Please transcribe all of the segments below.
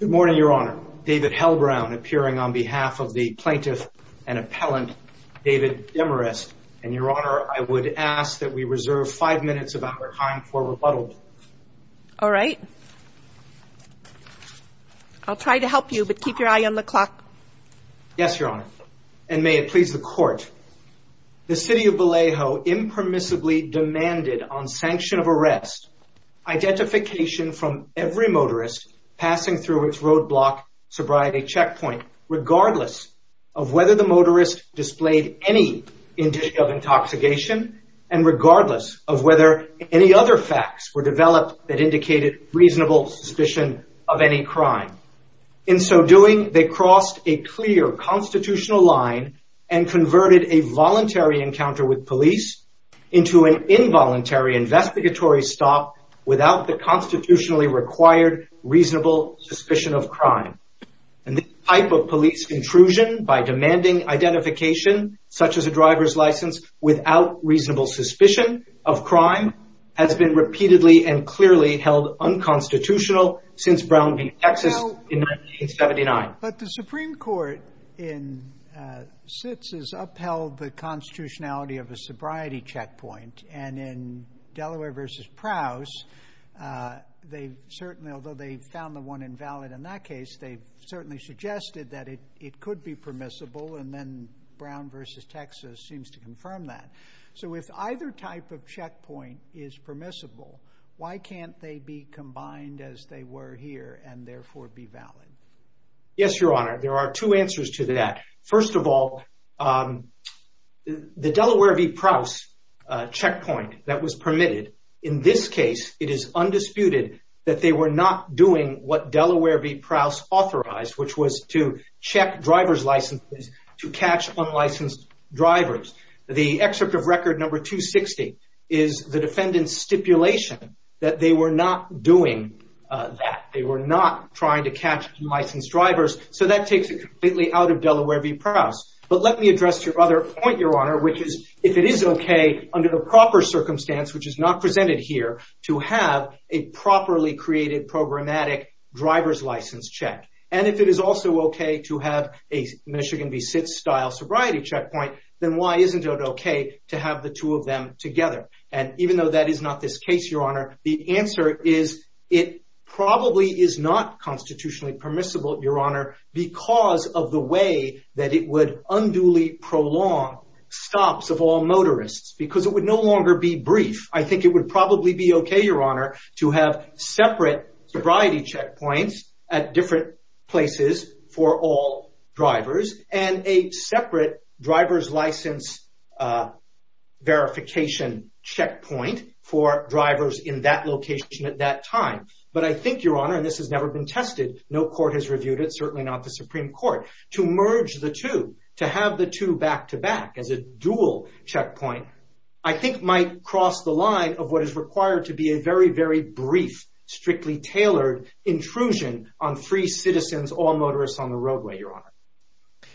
Good morning, Your Honor. David Hellbrown appearing on behalf of the plaintiff and appellant David Demarest. And, Your Honor, I would ask that we reserve five minutes of our time for rebuttal. All right. I'll try to help you, but keep your eye on the clock. Yes, Your Honor, and may it please the Court. The City of Vallejo impermissibly demanded on sanction of arrest identification from every motorist passing through its roadblock sobriety checkpoint, regardless of whether the motorist displayed any indicia of intoxication, and regardless of whether any other facts were developed that indicated reasonable suspicion of any crime. In so doing, they crossed a clear constitutional line and converted a voluntary encounter with police into an without the constitutionally required reasonable suspicion of crime. And the type of police intrusion by demanding identification, such as a driver's license, without reasonable suspicion of crime has been repeatedly and clearly held unconstitutional since Brown v. Texas in 1979. But the Supreme Court in SITS has upheld the constitutionality of a sobriety checkpoint, and in Delaware v. Prowse, although they found the one invalid in that case, they certainly suggested that it could be permissible, and then Brown v. Texas seems to confirm that. So if either type of checkpoint is permissible, why can't they be combined as they were here and therefore be valid? Yes, Your Honor, there are two answers to that. First of all, the Delaware v. Prowse checkpoint that was permitted in this case, it is undisputed that they were not doing what Delaware v. Prowse authorized, which was to check driver's licenses to catch unlicensed drivers. The excerpt of record number 260 is the defendant's stipulation that they were not doing that. They were not trying to catch unlicensed drivers. So that takes it completely out of Delaware v. Prowse. But let me address your other point, Your Honor, which is if it is okay under the proper circumstance, which is not presented here, to have a properly created programmatic driver's license check, and if it is also okay to have a Michigan v. Sitz style sobriety checkpoint, then why isn't it okay to have the two of them together? And even though that is not this case, Your Honor, the answer is it probably is not constitutionally permissible, Your Honor, because of the way that it would unduly prolong stops of all motorists, because it would no longer be brief. I think it would probably be okay, Your Honor, to have separate sobriety checkpoints at different places for all drivers and a separate driver's license verification checkpoint for drivers in that location at that time. But I think, Your Honor, and this has never been tested, no court has reviewed it, certainly not the Supreme Court, to merge the two, to have the two back to as a dual checkpoint, I think might cross the line of what is required to be a very, very brief, strictly tailored intrusion on three citizens, all motorists on the roadway, Your Honor.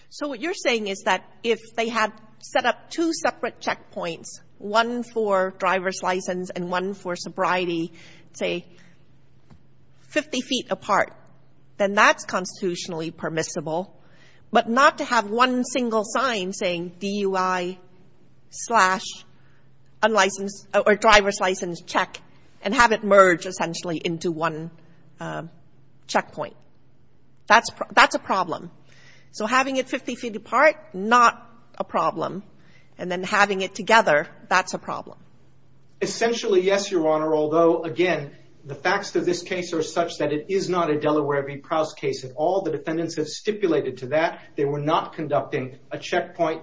So what you're saying is that if they had set up two separate checkpoints, one for driver's license and one for sobriety, say, 50 feet apart, then that's constitutionally permissible, but not to have one single sign saying DUI slash unlicensed or driver's license check and have it merge essentially into one checkpoint. That's a problem. So having it 50 feet apart, not a problem. And then having it together, that's a problem. Essentially, yes, Your Honor. Although, again, the facts of this case are such that it is not a Delaware v. Prowse case at all. The defendants have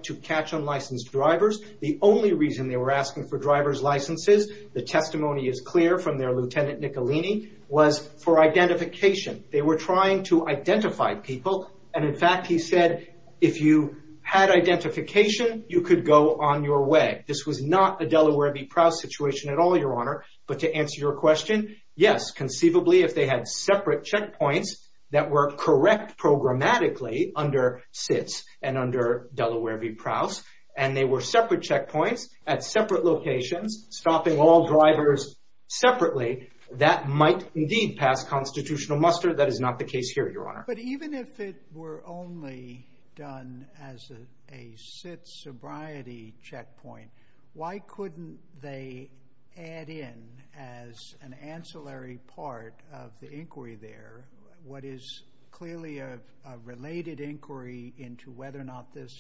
to catch unlicensed drivers. The only reason they were asking for driver's licenses, the testimony is clear from their Lieutenant Nicolini, was for identification. They were trying to identify people. And in fact, he said, if you had identification, you could go on your way. This was not a Delaware v. Prowse situation at all, Your Honor. But to answer your question, yes, conceivably, if they had separate checkpoints that were correct programmatically under SITS and under Delaware v. Prowse, and they were separate checkpoints at separate locations, stopping all drivers separately, that might indeed pass constitutional muster. That is not the case here, Your Honor. But even if it were only done as a SITS sobriety checkpoint, why couldn't they add in as an ancillary part of the inquiry there what is clearly a related inquiry into whether or not this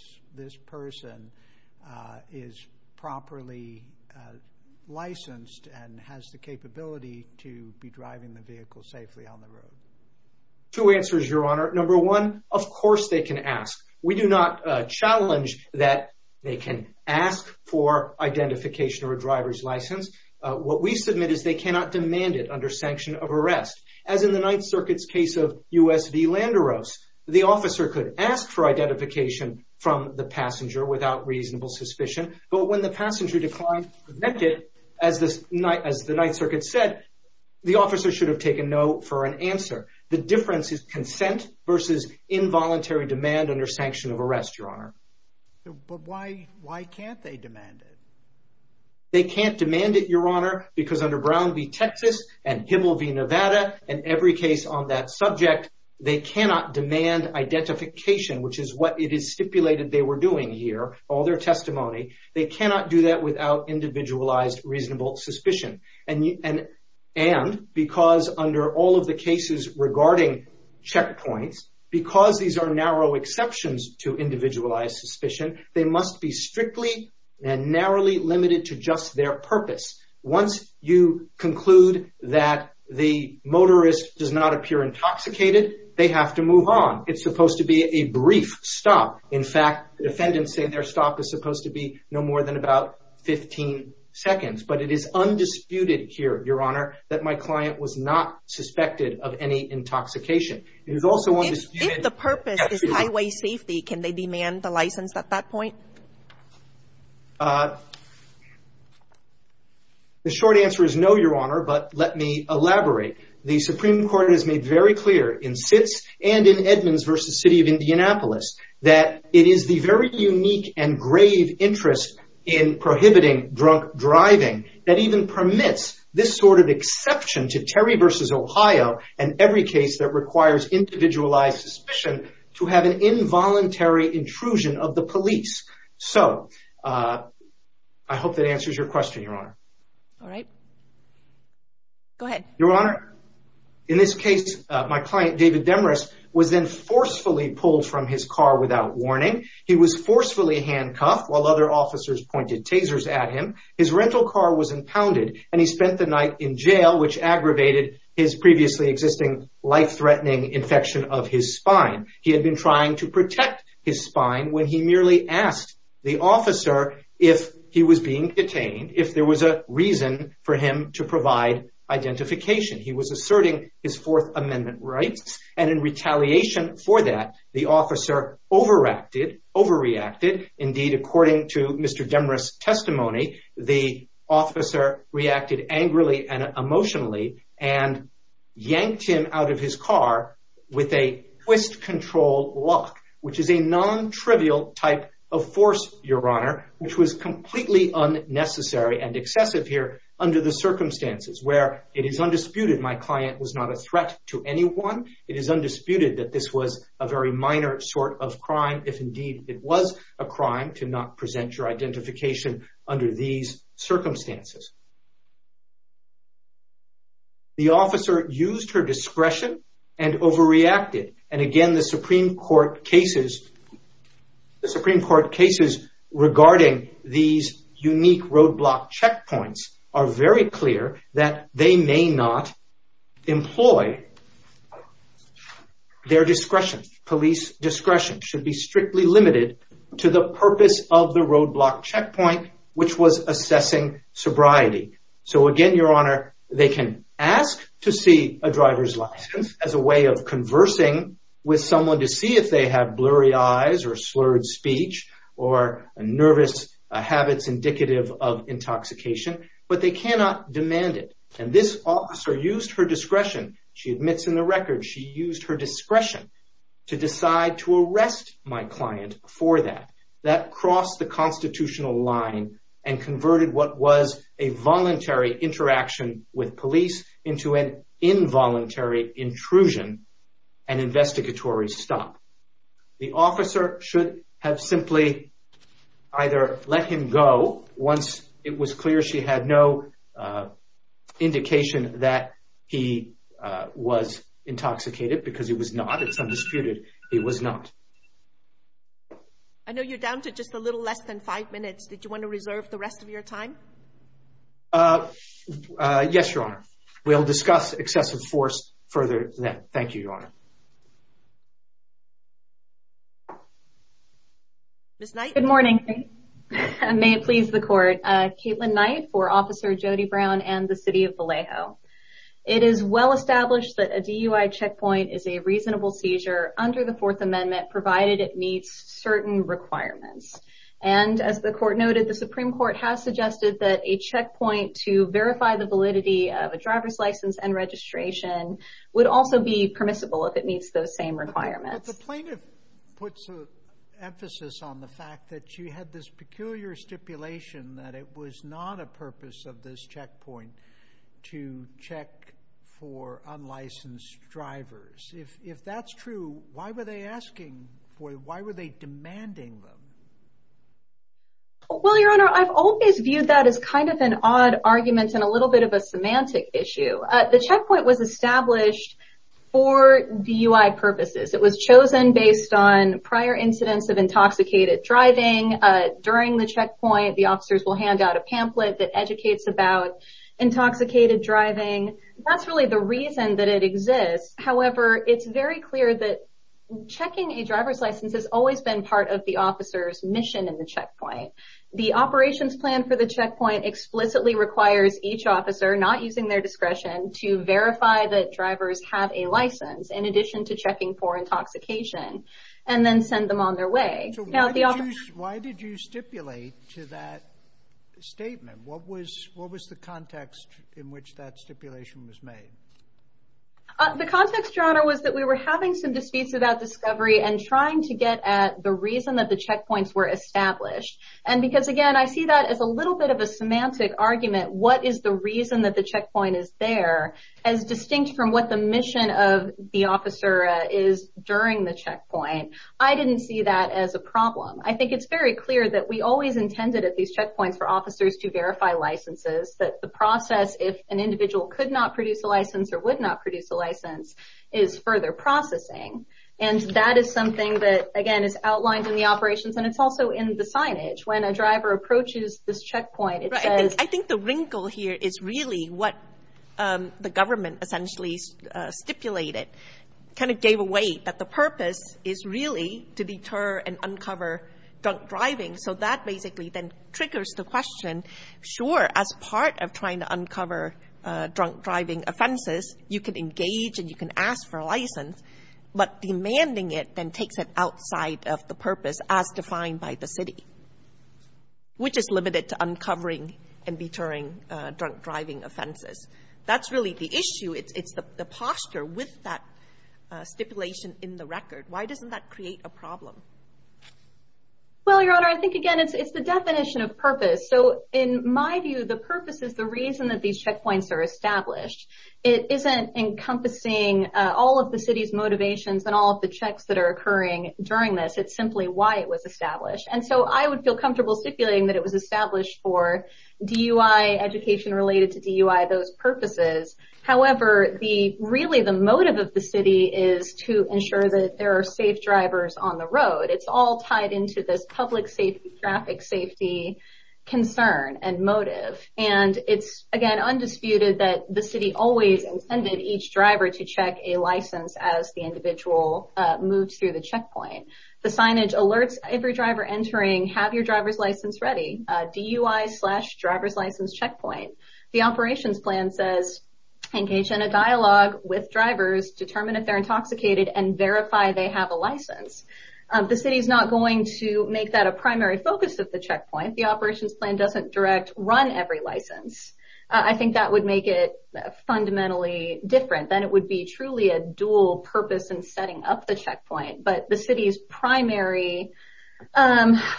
person is properly licensed and has the capability to be driving the vehicle safely on the road? Two answers, Your Honor. Number one, of course they can ask. We do not challenge that they can ask for identification or a driver's license. What we submit is they cannot demand it under sanction of arrest. As in the Ninth Circuit's case of U.S. v. Landeros, the officer could ask for identification from the passenger without reasonable suspicion. But when the passenger declined to present it, as the Ninth Circuit said, the officer should have taken no for an answer. The difference is consent versus involuntary demand under sanction of arrest, Your Honor. But why can't they demand it? They can't demand it, Your Honor, because under Brown v. Texas and Hibble v. Landeros' case on that subject, they cannot demand identification, which is what it is stipulated they were doing here, all their testimony. They cannot do that without individualized reasonable suspicion. And because under all of the cases regarding checkpoints, because these are narrow exceptions to individualized suspicion, they must be strictly and narrowly limited to just their purpose. Once you conclude that the motorist does not appear intoxicated, they have to move on. It's supposed to be a brief stop. In fact, defendants say their stop is supposed to be no more than about 15 seconds. But it is undisputed here, Your Honor, that my client was not suspected of any intoxication. It is also undisputed... If the purpose is highway safety, can they demand the license at that point? The short answer is no, Your Honor, but let me elaborate. The Supreme Court has made very clear in Sitz and in Edmonds v. City of Indianapolis that it is the very unique and grave interest in prohibiting drunk driving that even permits this sort of exception to Terry v. Ohio and every case that requires individualized suspicion to have an involuntary intrusion of the police. So I hope that answers your question, Your Honor. All right. Go ahead. Your Honor, in this case, my client, David Demarest, was then forcefully pulled from his car without warning. He was forcefully handcuffed while other officers pointed tasers at him. His rental car was impounded and he spent a week in the hospital. He had been trying to protect his spine when he merely asked the officer if he was being detained, if there was a reason for him to provide identification. He was asserting his Fourth Amendment rights and in retaliation for that, the officer overreacted. Indeed, according to Mr. Demarest's testimony, the officer reacted angrily and emotionally and yanked him out of his car with a twist control lock, which is a non-trivial type of force, Your Honor, which was completely unnecessary and excessive here under the circumstances where it is undisputed my client was not a threat to anyone. It is undisputed that this was a very minor sort of crime, if indeed it was a crime to not present your identification under these circumstances. Again, the Supreme Court cases regarding these unique roadblock checkpoints are very clear that they may not employ their discretion. Police discretion should be strictly limited to the purpose of the roadblock checkpoint, which was assessing sobriety. So again, Your Honor, they can ask to see a driver's license as a way of conversing with someone to see if they have blurry eyes or slurred speech or nervous habits indicative of intoxication, but they cannot demand it. And this officer used her discretion, she admits in the record, she used her discretion to decide to arrest my client for that. That crossed the constitutional line and converted what was a voluntary interaction with police into an involuntary intrusion and investigatory stop. The officer should have simply either let him go once it was clear she had no indication that he was intoxicated because he was not. It's undisputed he was not. I know you're down to just a little less than five minutes. Did you want to reserve the rest of your time? Yes, Your Honor. We'll discuss excessive force further then. Thank you, Your Honor. Ms. Knight. Good morning. May it please the court. Caitlin Knight for Officer Jody Brown and the City of Vallejo. It is well established that a DUI checkpoint is a reasonable seizure under the Fourth Amendment provided it meets certain requirements. And as the court noted, the Supreme Court has suggested that a checkpoint to verify the validity of a driver's license and registration would also be permissible if it meets those same requirements. The plaintiff puts an emphasis on the fact that you had this peculiar stipulation that it was not a purpose of this checkpoint to check for unlicensed drivers. If that's true, why were they asking for it? Why were they demanding them? Well, Your Honor, I've always viewed that as kind of an odd argument and a little bit of a semantic issue. The checkpoint was established for DUI purposes. It was chosen based on prior incidents of intoxicated driving. During the checkpoint, the officers will hand out a pamphlet that educates about intoxicated driving. That's really the reason that it exists. However, it's very clear that checking a driver's license has always been part of the officer's mission in the checkpoint. The operations plan for the checkpoint explicitly requires each officer, not using their discretion, to verify that drivers have a license in addition to checking for intoxication and then send them on their way. So why did you stipulate to that statement? What was the context in which that stipulation was made? The context, Your Honor, was that we were having some disputes about discovery and trying to get at the reason that the checkpoints were established. And because, again, I see that as a little bit of a semantic argument, what is the reason that the checkpoint is there, as distinct from what the mission of the officer is during the checkpoint. I didn't see that as a problem. I think it's very clear that we always intended at these checkpoints for officers to verify licenses, that the process, if an individual could not produce a license or would not produce a license, is further processing. And that is something that, again, is outlined in the operations, and it's also in the signage. When a driver approaches this checkpoint, it says... I think the wrinkle here is really what the government essentially stipulated, kind of gave away, that the purpose is really to deter and uncover drunk driving. So that basically then triggers the question, sure, as part of trying to you can engage and you can ask for a license, but demanding it then takes it outside of the purpose as defined by the city, which is limited to uncovering and deterring drunk driving offenses. That's really the issue. It's the posture with that stipulation in the record. Why doesn't that create a problem? Well, Your Honor, I think, again, it's the definition of purpose. So in my view, the purpose is the reason that these checkpoints are established. It isn't encompassing all of the city's motivations and all of the checks that are occurring during this. It's simply why it was established. And so I would feel comfortable stipulating that it was established for DUI, education related to DUI, those purposes. However, really the motive of the city is to ensure that there are safe drivers on the road. It's all tied into this public safety, traffic safety concern and motive. And it's, again, undisputed that the city always intended each driver to check a license as the individual moves through the checkpoint. The signage alerts every driver entering, have your driver's license ready, DUI slash driver's license checkpoint. The operations plan says, engage in a dialogue with drivers, determine if they're intoxicated and verify they have a license. The city is not going to make that a primary focus of the checkpoint. The operations plan doesn't direct run every license. I think that would make it fundamentally different. Then it would be truly a dual purpose in setting up the checkpoint. But the city's primary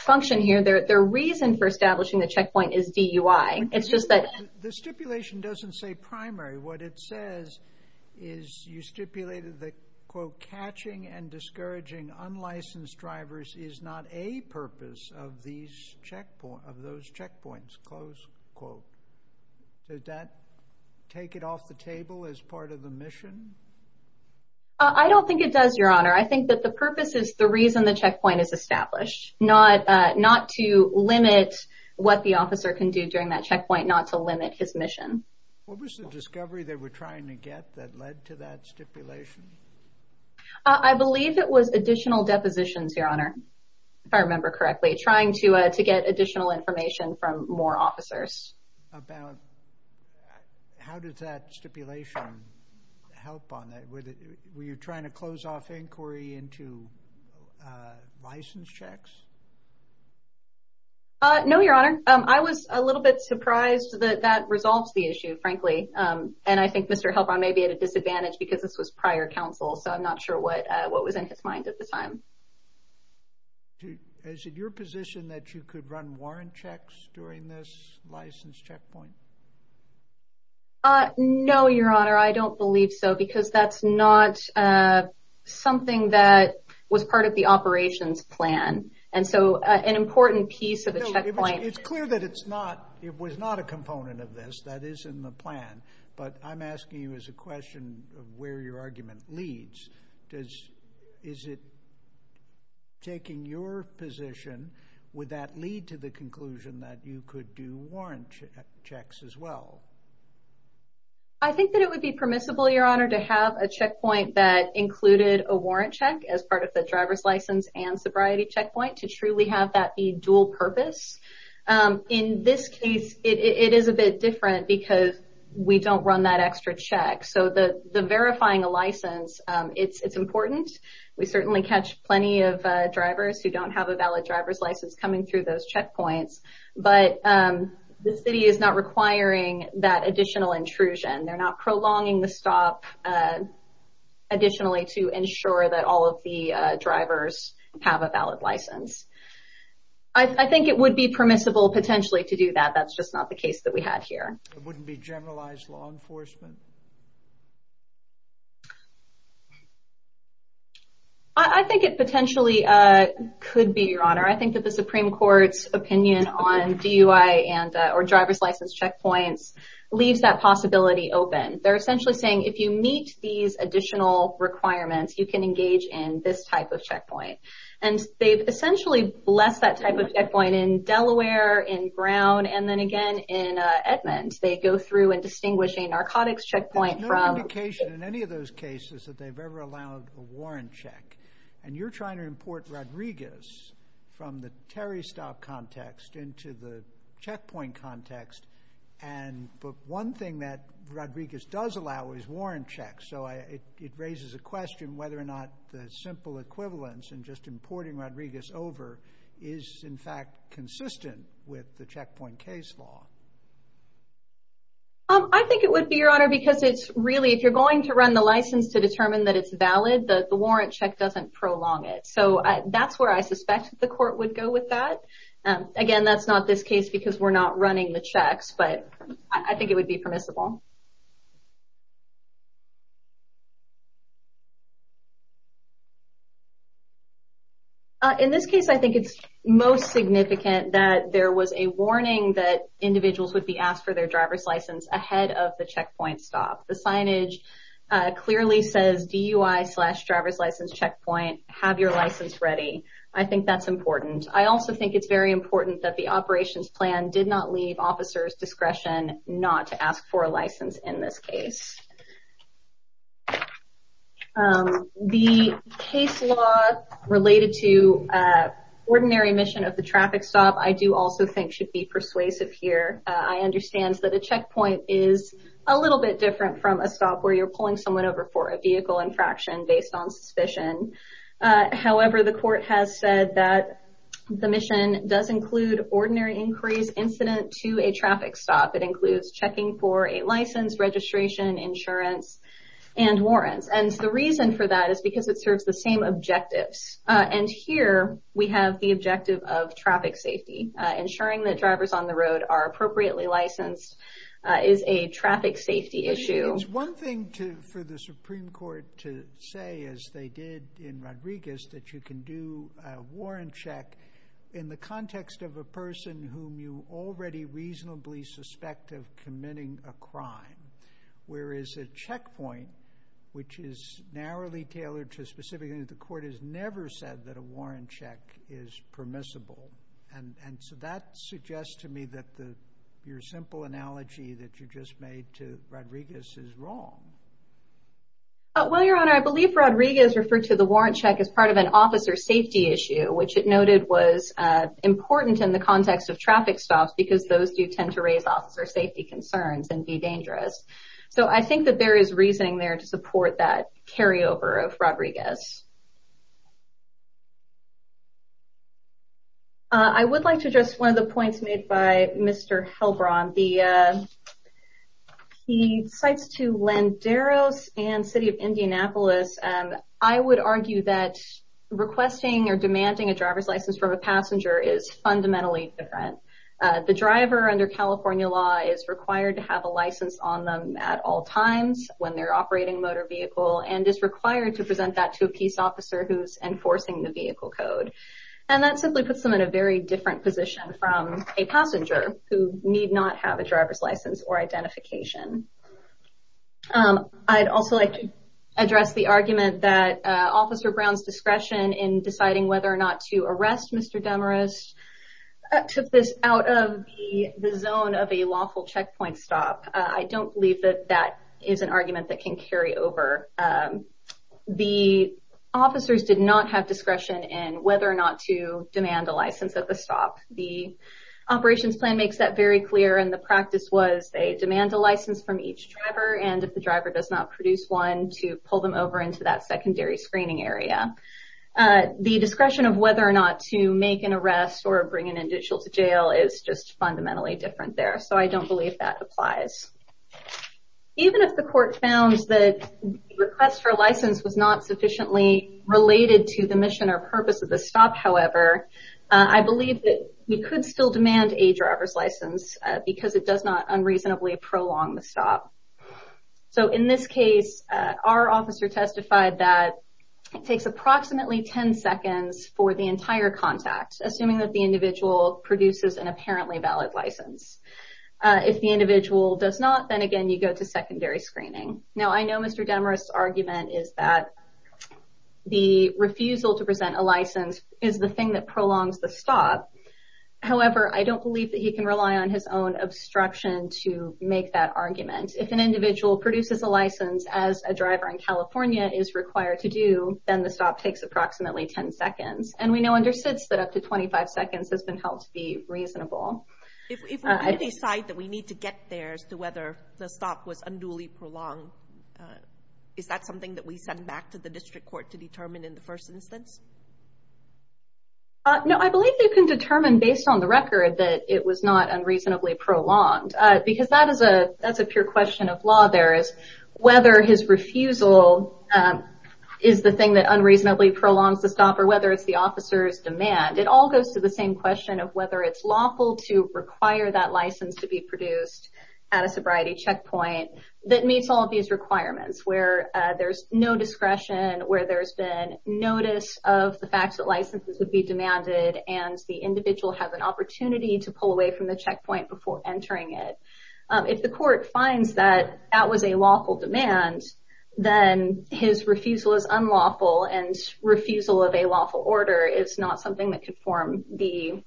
function here, their reason for establishing the checkpoint is DUI. It's just that... The stipulation doesn't say primary. What it says is you stipulated that, quote, catching and discouraging unlicensed drivers is not a purpose of these checkpoints, of those checkpoints, close quote. Does that take it off the table as part of the mission? I don't think it does, Your Honor. I think that the purpose is the reason the checkpoint is established. Not to limit what the mission. What was the discovery that we're trying to get that led to that stipulation? I believe it was additional depositions, Your Honor, if I remember correctly. Trying to get additional information from more officers. How did that stipulation help on it? Were you trying to close off inquiry into license checks? No, Your Honor. I was a little bit surprised that that resolves the issue, frankly. And I think Mr. Helpern may be at a disadvantage because this was prior counsel, so I'm not sure what what was in his mind at the time. Is it your position that you could run warrant checks during this license checkpoint? No, Your Honor. I don't believe so because that's not something that was part of the operations plan. And so an important piece of the checkpoint... It's clear that it was not a component of this. That is in the plan. But I'm asking you as a question of where your argument leads. Is it taking your position, would that lead to the conclusion that you could do warrant checks as well? I think that it would be permissible, Your Honor, to have a driver's license and sobriety checkpoint, to truly have that be dual-purpose. In this case, it is a bit different because we don't run that extra check. So the verifying a license, it's important. We certainly catch plenty of drivers who don't have a valid driver's license coming through those checkpoints. But the city is not requiring that additional intrusion. They're not prolonging the drivers have a valid license. I think it would be permissible, potentially, to do that. That's just not the case that we had here. It wouldn't be generalized law enforcement? I think it potentially could be, Your Honor. I think that the Supreme Court's opinion on DUI and or driver's license checkpoints leaves that possibility open. They're essentially saying if you meet these additional requirements, you can engage in this type of checkpoint. And they've essentially blessed that type of checkpoint in Delaware, in Brown, and then again in Edmond. They go through and distinguish a narcotics checkpoint from... There's no indication in any of those cases that they've ever allowed a warrant check. And you're trying to import Rodriguez from the Terry stop context into the checkpoint context. But one thing that Rodriguez does allow is warrant checks. So it raises a question whether or not the simple equivalence in just importing Rodriguez over is, in fact, consistent with the checkpoint case law. I think it would be, Your Honor, because it's really... If you're going to run the license to determine that it's valid, the warrant check doesn't prolong it. So that's where I suspect the court would go with that. Again, that's not this case because we're not running the checks. But I think it would be permissible. In this case, I think it's most significant that there was a warning that individuals would be asked for their driver's license ahead of the checkpoint stop. The signage clearly says DUI slash driver's license checkpoint. Have your license ready. I think that's important. I also think it's very important that the operations plan did not leave officers discretion not to do so. The case law related to ordinary mission of the traffic stop, I do also think should be persuasive here. I understand that a checkpoint is a little bit different from a stop where you're pulling someone over for a vehicle infraction based on suspicion. However, the court has said that the mission does include ordinary inquiries incident to a traffic stop. It includes checking for a license, registration, insurance, and warrants. And the reason for that is because it serves the same objectives. And here we have the objective of traffic safety. Ensuring that drivers on the road are appropriately licensed is a traffic safety issue. It's one thing to for the Supreme Court to say, as they did in Rodriguez, that you can do a warrant check in the context of a person whom you already reasonably suspect of committing a crime. Whereas a checkpoint, which is narrowly tailored to a specific unit, the court has never said that a warrant check is permissible. And so that suggests to me that your simple analogy that you just made to Rodriguez is wrong. Well, Your Honor, I believe Rodriguez referred to the warrant check as part of an officer safety issue, which it noted was important in the context of traffic stops because those do tend to raise officer safety concerns and be dangerous. So I think that there is reasoning there to support that carryover of Rodriguez. I would like to address one of the points made by Mr. Helbron. He cites to Landeros and City of Indianapolis, I would argue that requesting or driver's license from a passenger is fundamentally different. The driver under California law is required to have a license on them at all times when they're operating a motor vehicle and is required to present that to a peace officer who's enforcing the vehicle code. And that simply puts them in a very different position from a passenger who need not have a driver's license or identification. I'd also like to address the argument that Officer Brown's discretion in deciding whether or not to arrest Mr. Demarest took this out of the zone of a lawful checkpoint stop. I don't believe that that is an argument that can carry over. The officers did not have discretion in whether or not to demand a license at the stop. The operations plan makes that very clear and the practice was they demand a license from each driver and if the driver does not the discretion of whether or not to make an arrest or bring an individual to jail is just fundamentally different there. So I don't believe that applies. Even if the court found that request for license was not sufficiently related to the mission or purpose of the stop, however, I believe that we could still demand a driver's license because it does not unreasonably prolong the stop. So in this case, our officer testified that it takes approximately 10 seconds for the entire contact, assuming that the individual produces an apparently valid license. If the individual does not, then again you go to secondary screening. Now I know Mr. Demarest's argument is that the refusal to present a license is the thing that prolongs the stop. However, I don't believe that he can rely on his own obstruction to make that argument. If an individual produces a license as a driver in California is required to do, then the stop takes approximately 10 seconds and we know under SIDS that up to 25 seconds has been held to be reasonable. If we decide that we need to get there as to whether the stop was unduly prolonged, is that something that we send back to the district court to determine in the first instance? No, I believe they can determine based on the unduly prolonged because that is a that's a pure question of law. There is whether his refusal is the thing that unreasonably prolongs the stop or whether it's the officer's demand. It all goes to the same question of whether it's lawful to require that license to be produced at a sobriety checkpoint that meets all of these requirements where there's no discretion, where there's been notice of the fact that licenses would be demanded and the entering it. If the court finds that that was a lawful demand, then his refusal is unlawful and refusal of a lawful order is not something that could form the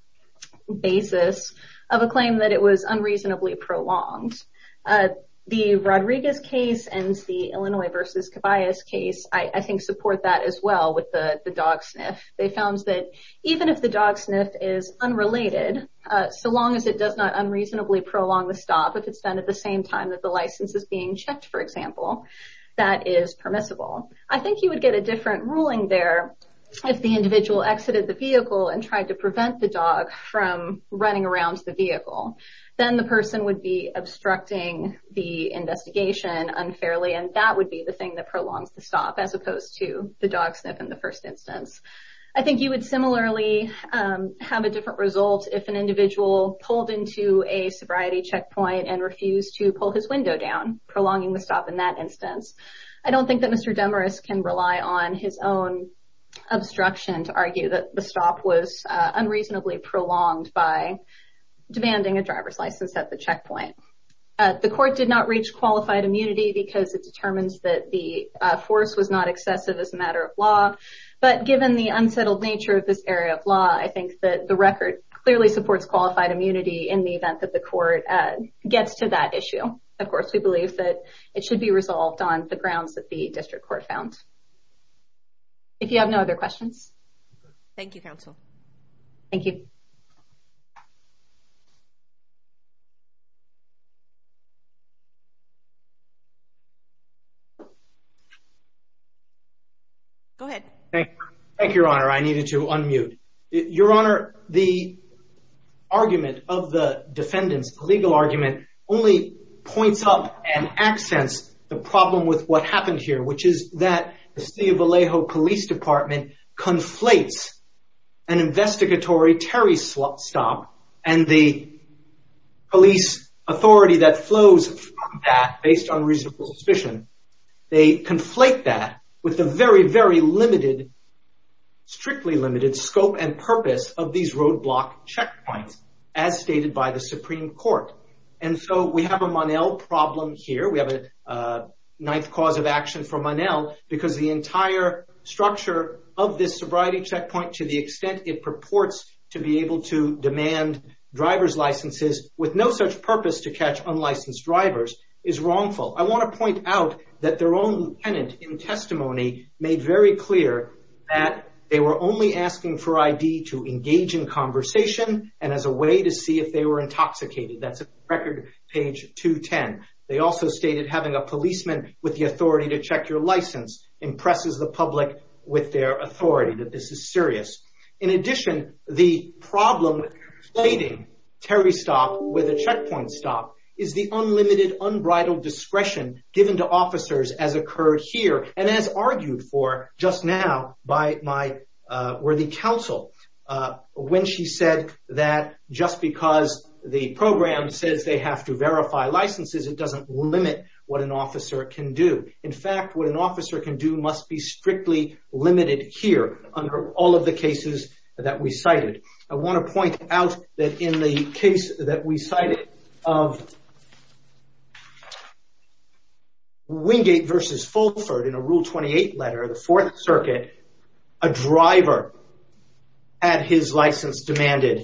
basis of a claim that it was unreasonably prolonged. The Rodriguez case and the Illinois versus Caballos case I think support that as well with the dog sniff. They found that even if the dog sniff is unrelated, so long as it does not unreasonably prolong the stop, if it's done at the same time that the license is being checked for example, that is permissible. I think you would get a different ruling there if the individual exited the vehicle and tried to prevent the dog from running around the vehicle. Then the person would be obstructing the investigation unfairly and that would be the thing that prolongs the stop as opposed to the dog sniff in the first instance. I think you would similarly have a different result if an individual pulled into a sobriety checkpoint and refused to pull his window down, prolonging the stop in that instance. I don't think that Mr. Demarest can rely on his own obstruction to argue that the stop was unreasonably prolonged by demanding a driver's license at the checkpoint. The court did not reach qualified immunity because it determines that the force was not excessive as a matter of law, but given the unsettled nature of this area of law, I think that the record clearly supports qualified immunity in the event that the court gets to that issue. Of course, we believe that it should be resolved on the grounds that the district court found. If you have no other questions. Thank you counsel. Thank you. Go ahead. Thank you, Your Honor. I needed to unmute. Your Honor, the argument of the defendant's legal argument only points up and accents the problem with what happened here, which is that the City of Vallejo Police Department conflates an unlawful stop and the police authority that flows from that, based on reasonable suspicion, they conflate that with the very, very limited, strictly limited, scope and purpose of these roadblock checkpoints, as stated by the Supreme Court. And so we have a Monell problem here. We have a ninth cause of action for Monell because the entire structure of this sobriety checkpoint, to the extent it purports to be able to demand driver's licenses with no such purpose to catch unlicensed drivers, is wrongful. I want to point out that their own tenant in testimony made very clear that they were only asking for ID to engage in conversation and as a way to see if they were intoxicated. That's record page 210. They also stated having a policeman with the authority to check your license impresses the public with their authority, that this is serious. In addition, the problem with conflating Terry's stop with a checkpoint stop is the unlimited, unbridled discretion given to officers as occurred here and as argued for just now by my worthy counsel when she said that just because the program says they have to verify licenses, it doesn't limit what an officer can do. In fact, what an officer can do must be strictly limited here under all of the cases that we cited. I want to point out that in the case that we cited of Wingate versus Fulford in a Rule 28 letter of the Fourth Circuit, a driver had his license demanded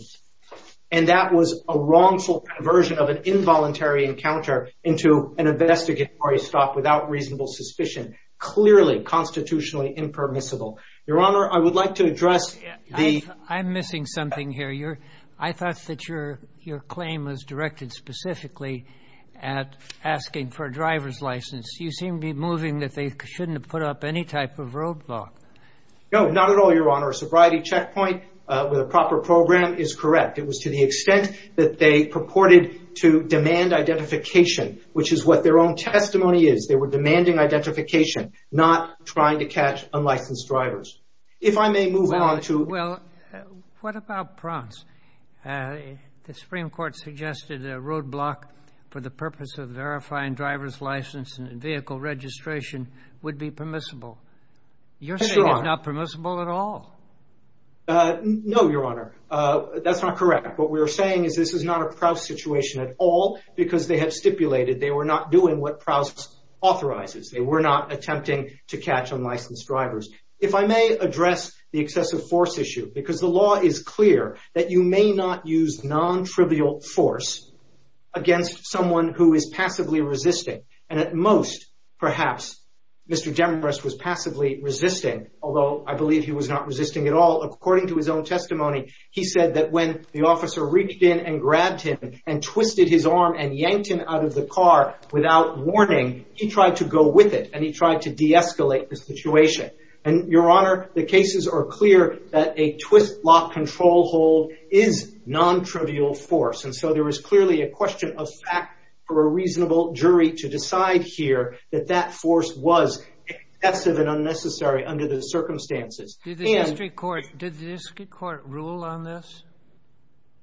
and that was a wrongful version of an involuntary encounter into an investigatory stop without reasonable suspicion, clearly constitutionally impermissible. Your Honor, I would like to address the... I'm missing something here. I thought that your claim was directed specifically at asking for a driver's license. You seem to be moving that they shouldn't have put up any type of roadblock. No, not at all, Your Honor. A sobriety checkpoint with a proper program is correct. It was to the extent that they purported to demand identification, which is what their own testimony is. They were demanding identification, not trying to catch unlicensed drivers. If I may move on to... Well, what about Prance? The Supreme Court suggested a roadblock for the purpose of verifying driver's license and vehicle registration would be permissible. You're saying it's not permissible at all. No, Your Honor. That's not correct. What we're saying is this is not a Prouse situation at all, because they have stipulated they were not doing what Prouse authorizes. They were not attempting to catch unlicensed drivers. If I may address the excessive force issue, because the law is clear that you may not use non-trivial force against someone who is passively resisting, and at most, perhaps, Mr. Demarest was passively resisting, although I believe he was not resisting at all. According to his own testimony, he said that when the police grabbed him and twisted his arm and yanked him out of the car without warning, he tried to go with it, and he tried to de-escalate the situation. And Your Honor, the cases are clear that a twist-lock control hold is non-trivial force, and so there is clearly a question of fact for a reasonable jury to decide here that that force was excessive and unnecessary under the circumstances. Did the district court rule on this?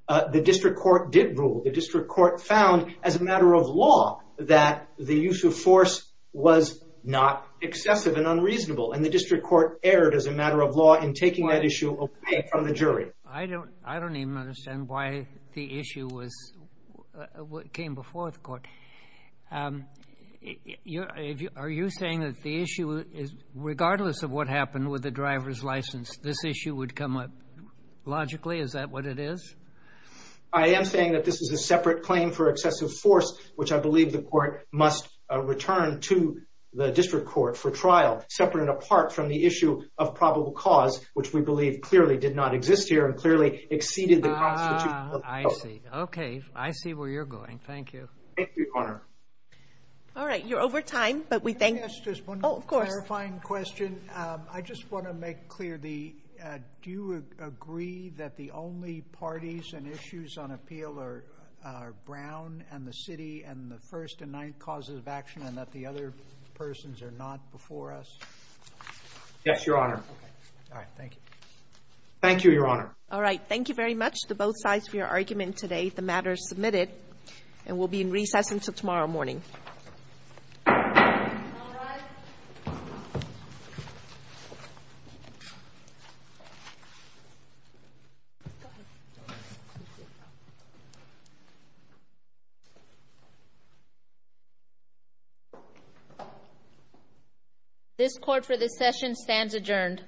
The district court did rule. The district court found, as a matter of law, that the use of force was not excessive and unreasonable, and the district court erred as a matter of law in taking that issue away from the jury. I don't even understand why the issue came before the court. Are you saying that the issue is, regardless of what happened with the driver's license, this issue would come up logically? Is that what it is? I am saying that this is a separate claim for excessive force, which I believe the court must return to the district court for trial, separate and apart from the issue of probable cause, which we believe clearly did not exist here and clearly exceeded the constitution of the court. Ah, I see. Okay, I see where you're going. Thank you. Thank you, Your Honor. All right, you're over time, but we thank you. Yes, just one clarifying question. I just want to make clear, do you agree that the only parties and issues on appeal are Brown and the city and the first and ninth causes of action and that the other persons are not before us? Yes, Your Honor. All right, thank you. Thank you, Your Honor. All right, thank you very much to both sides for your argument today. The matter is submitted and will be in recess until tomorrow morning. All rise. This court for this session stands adjourned.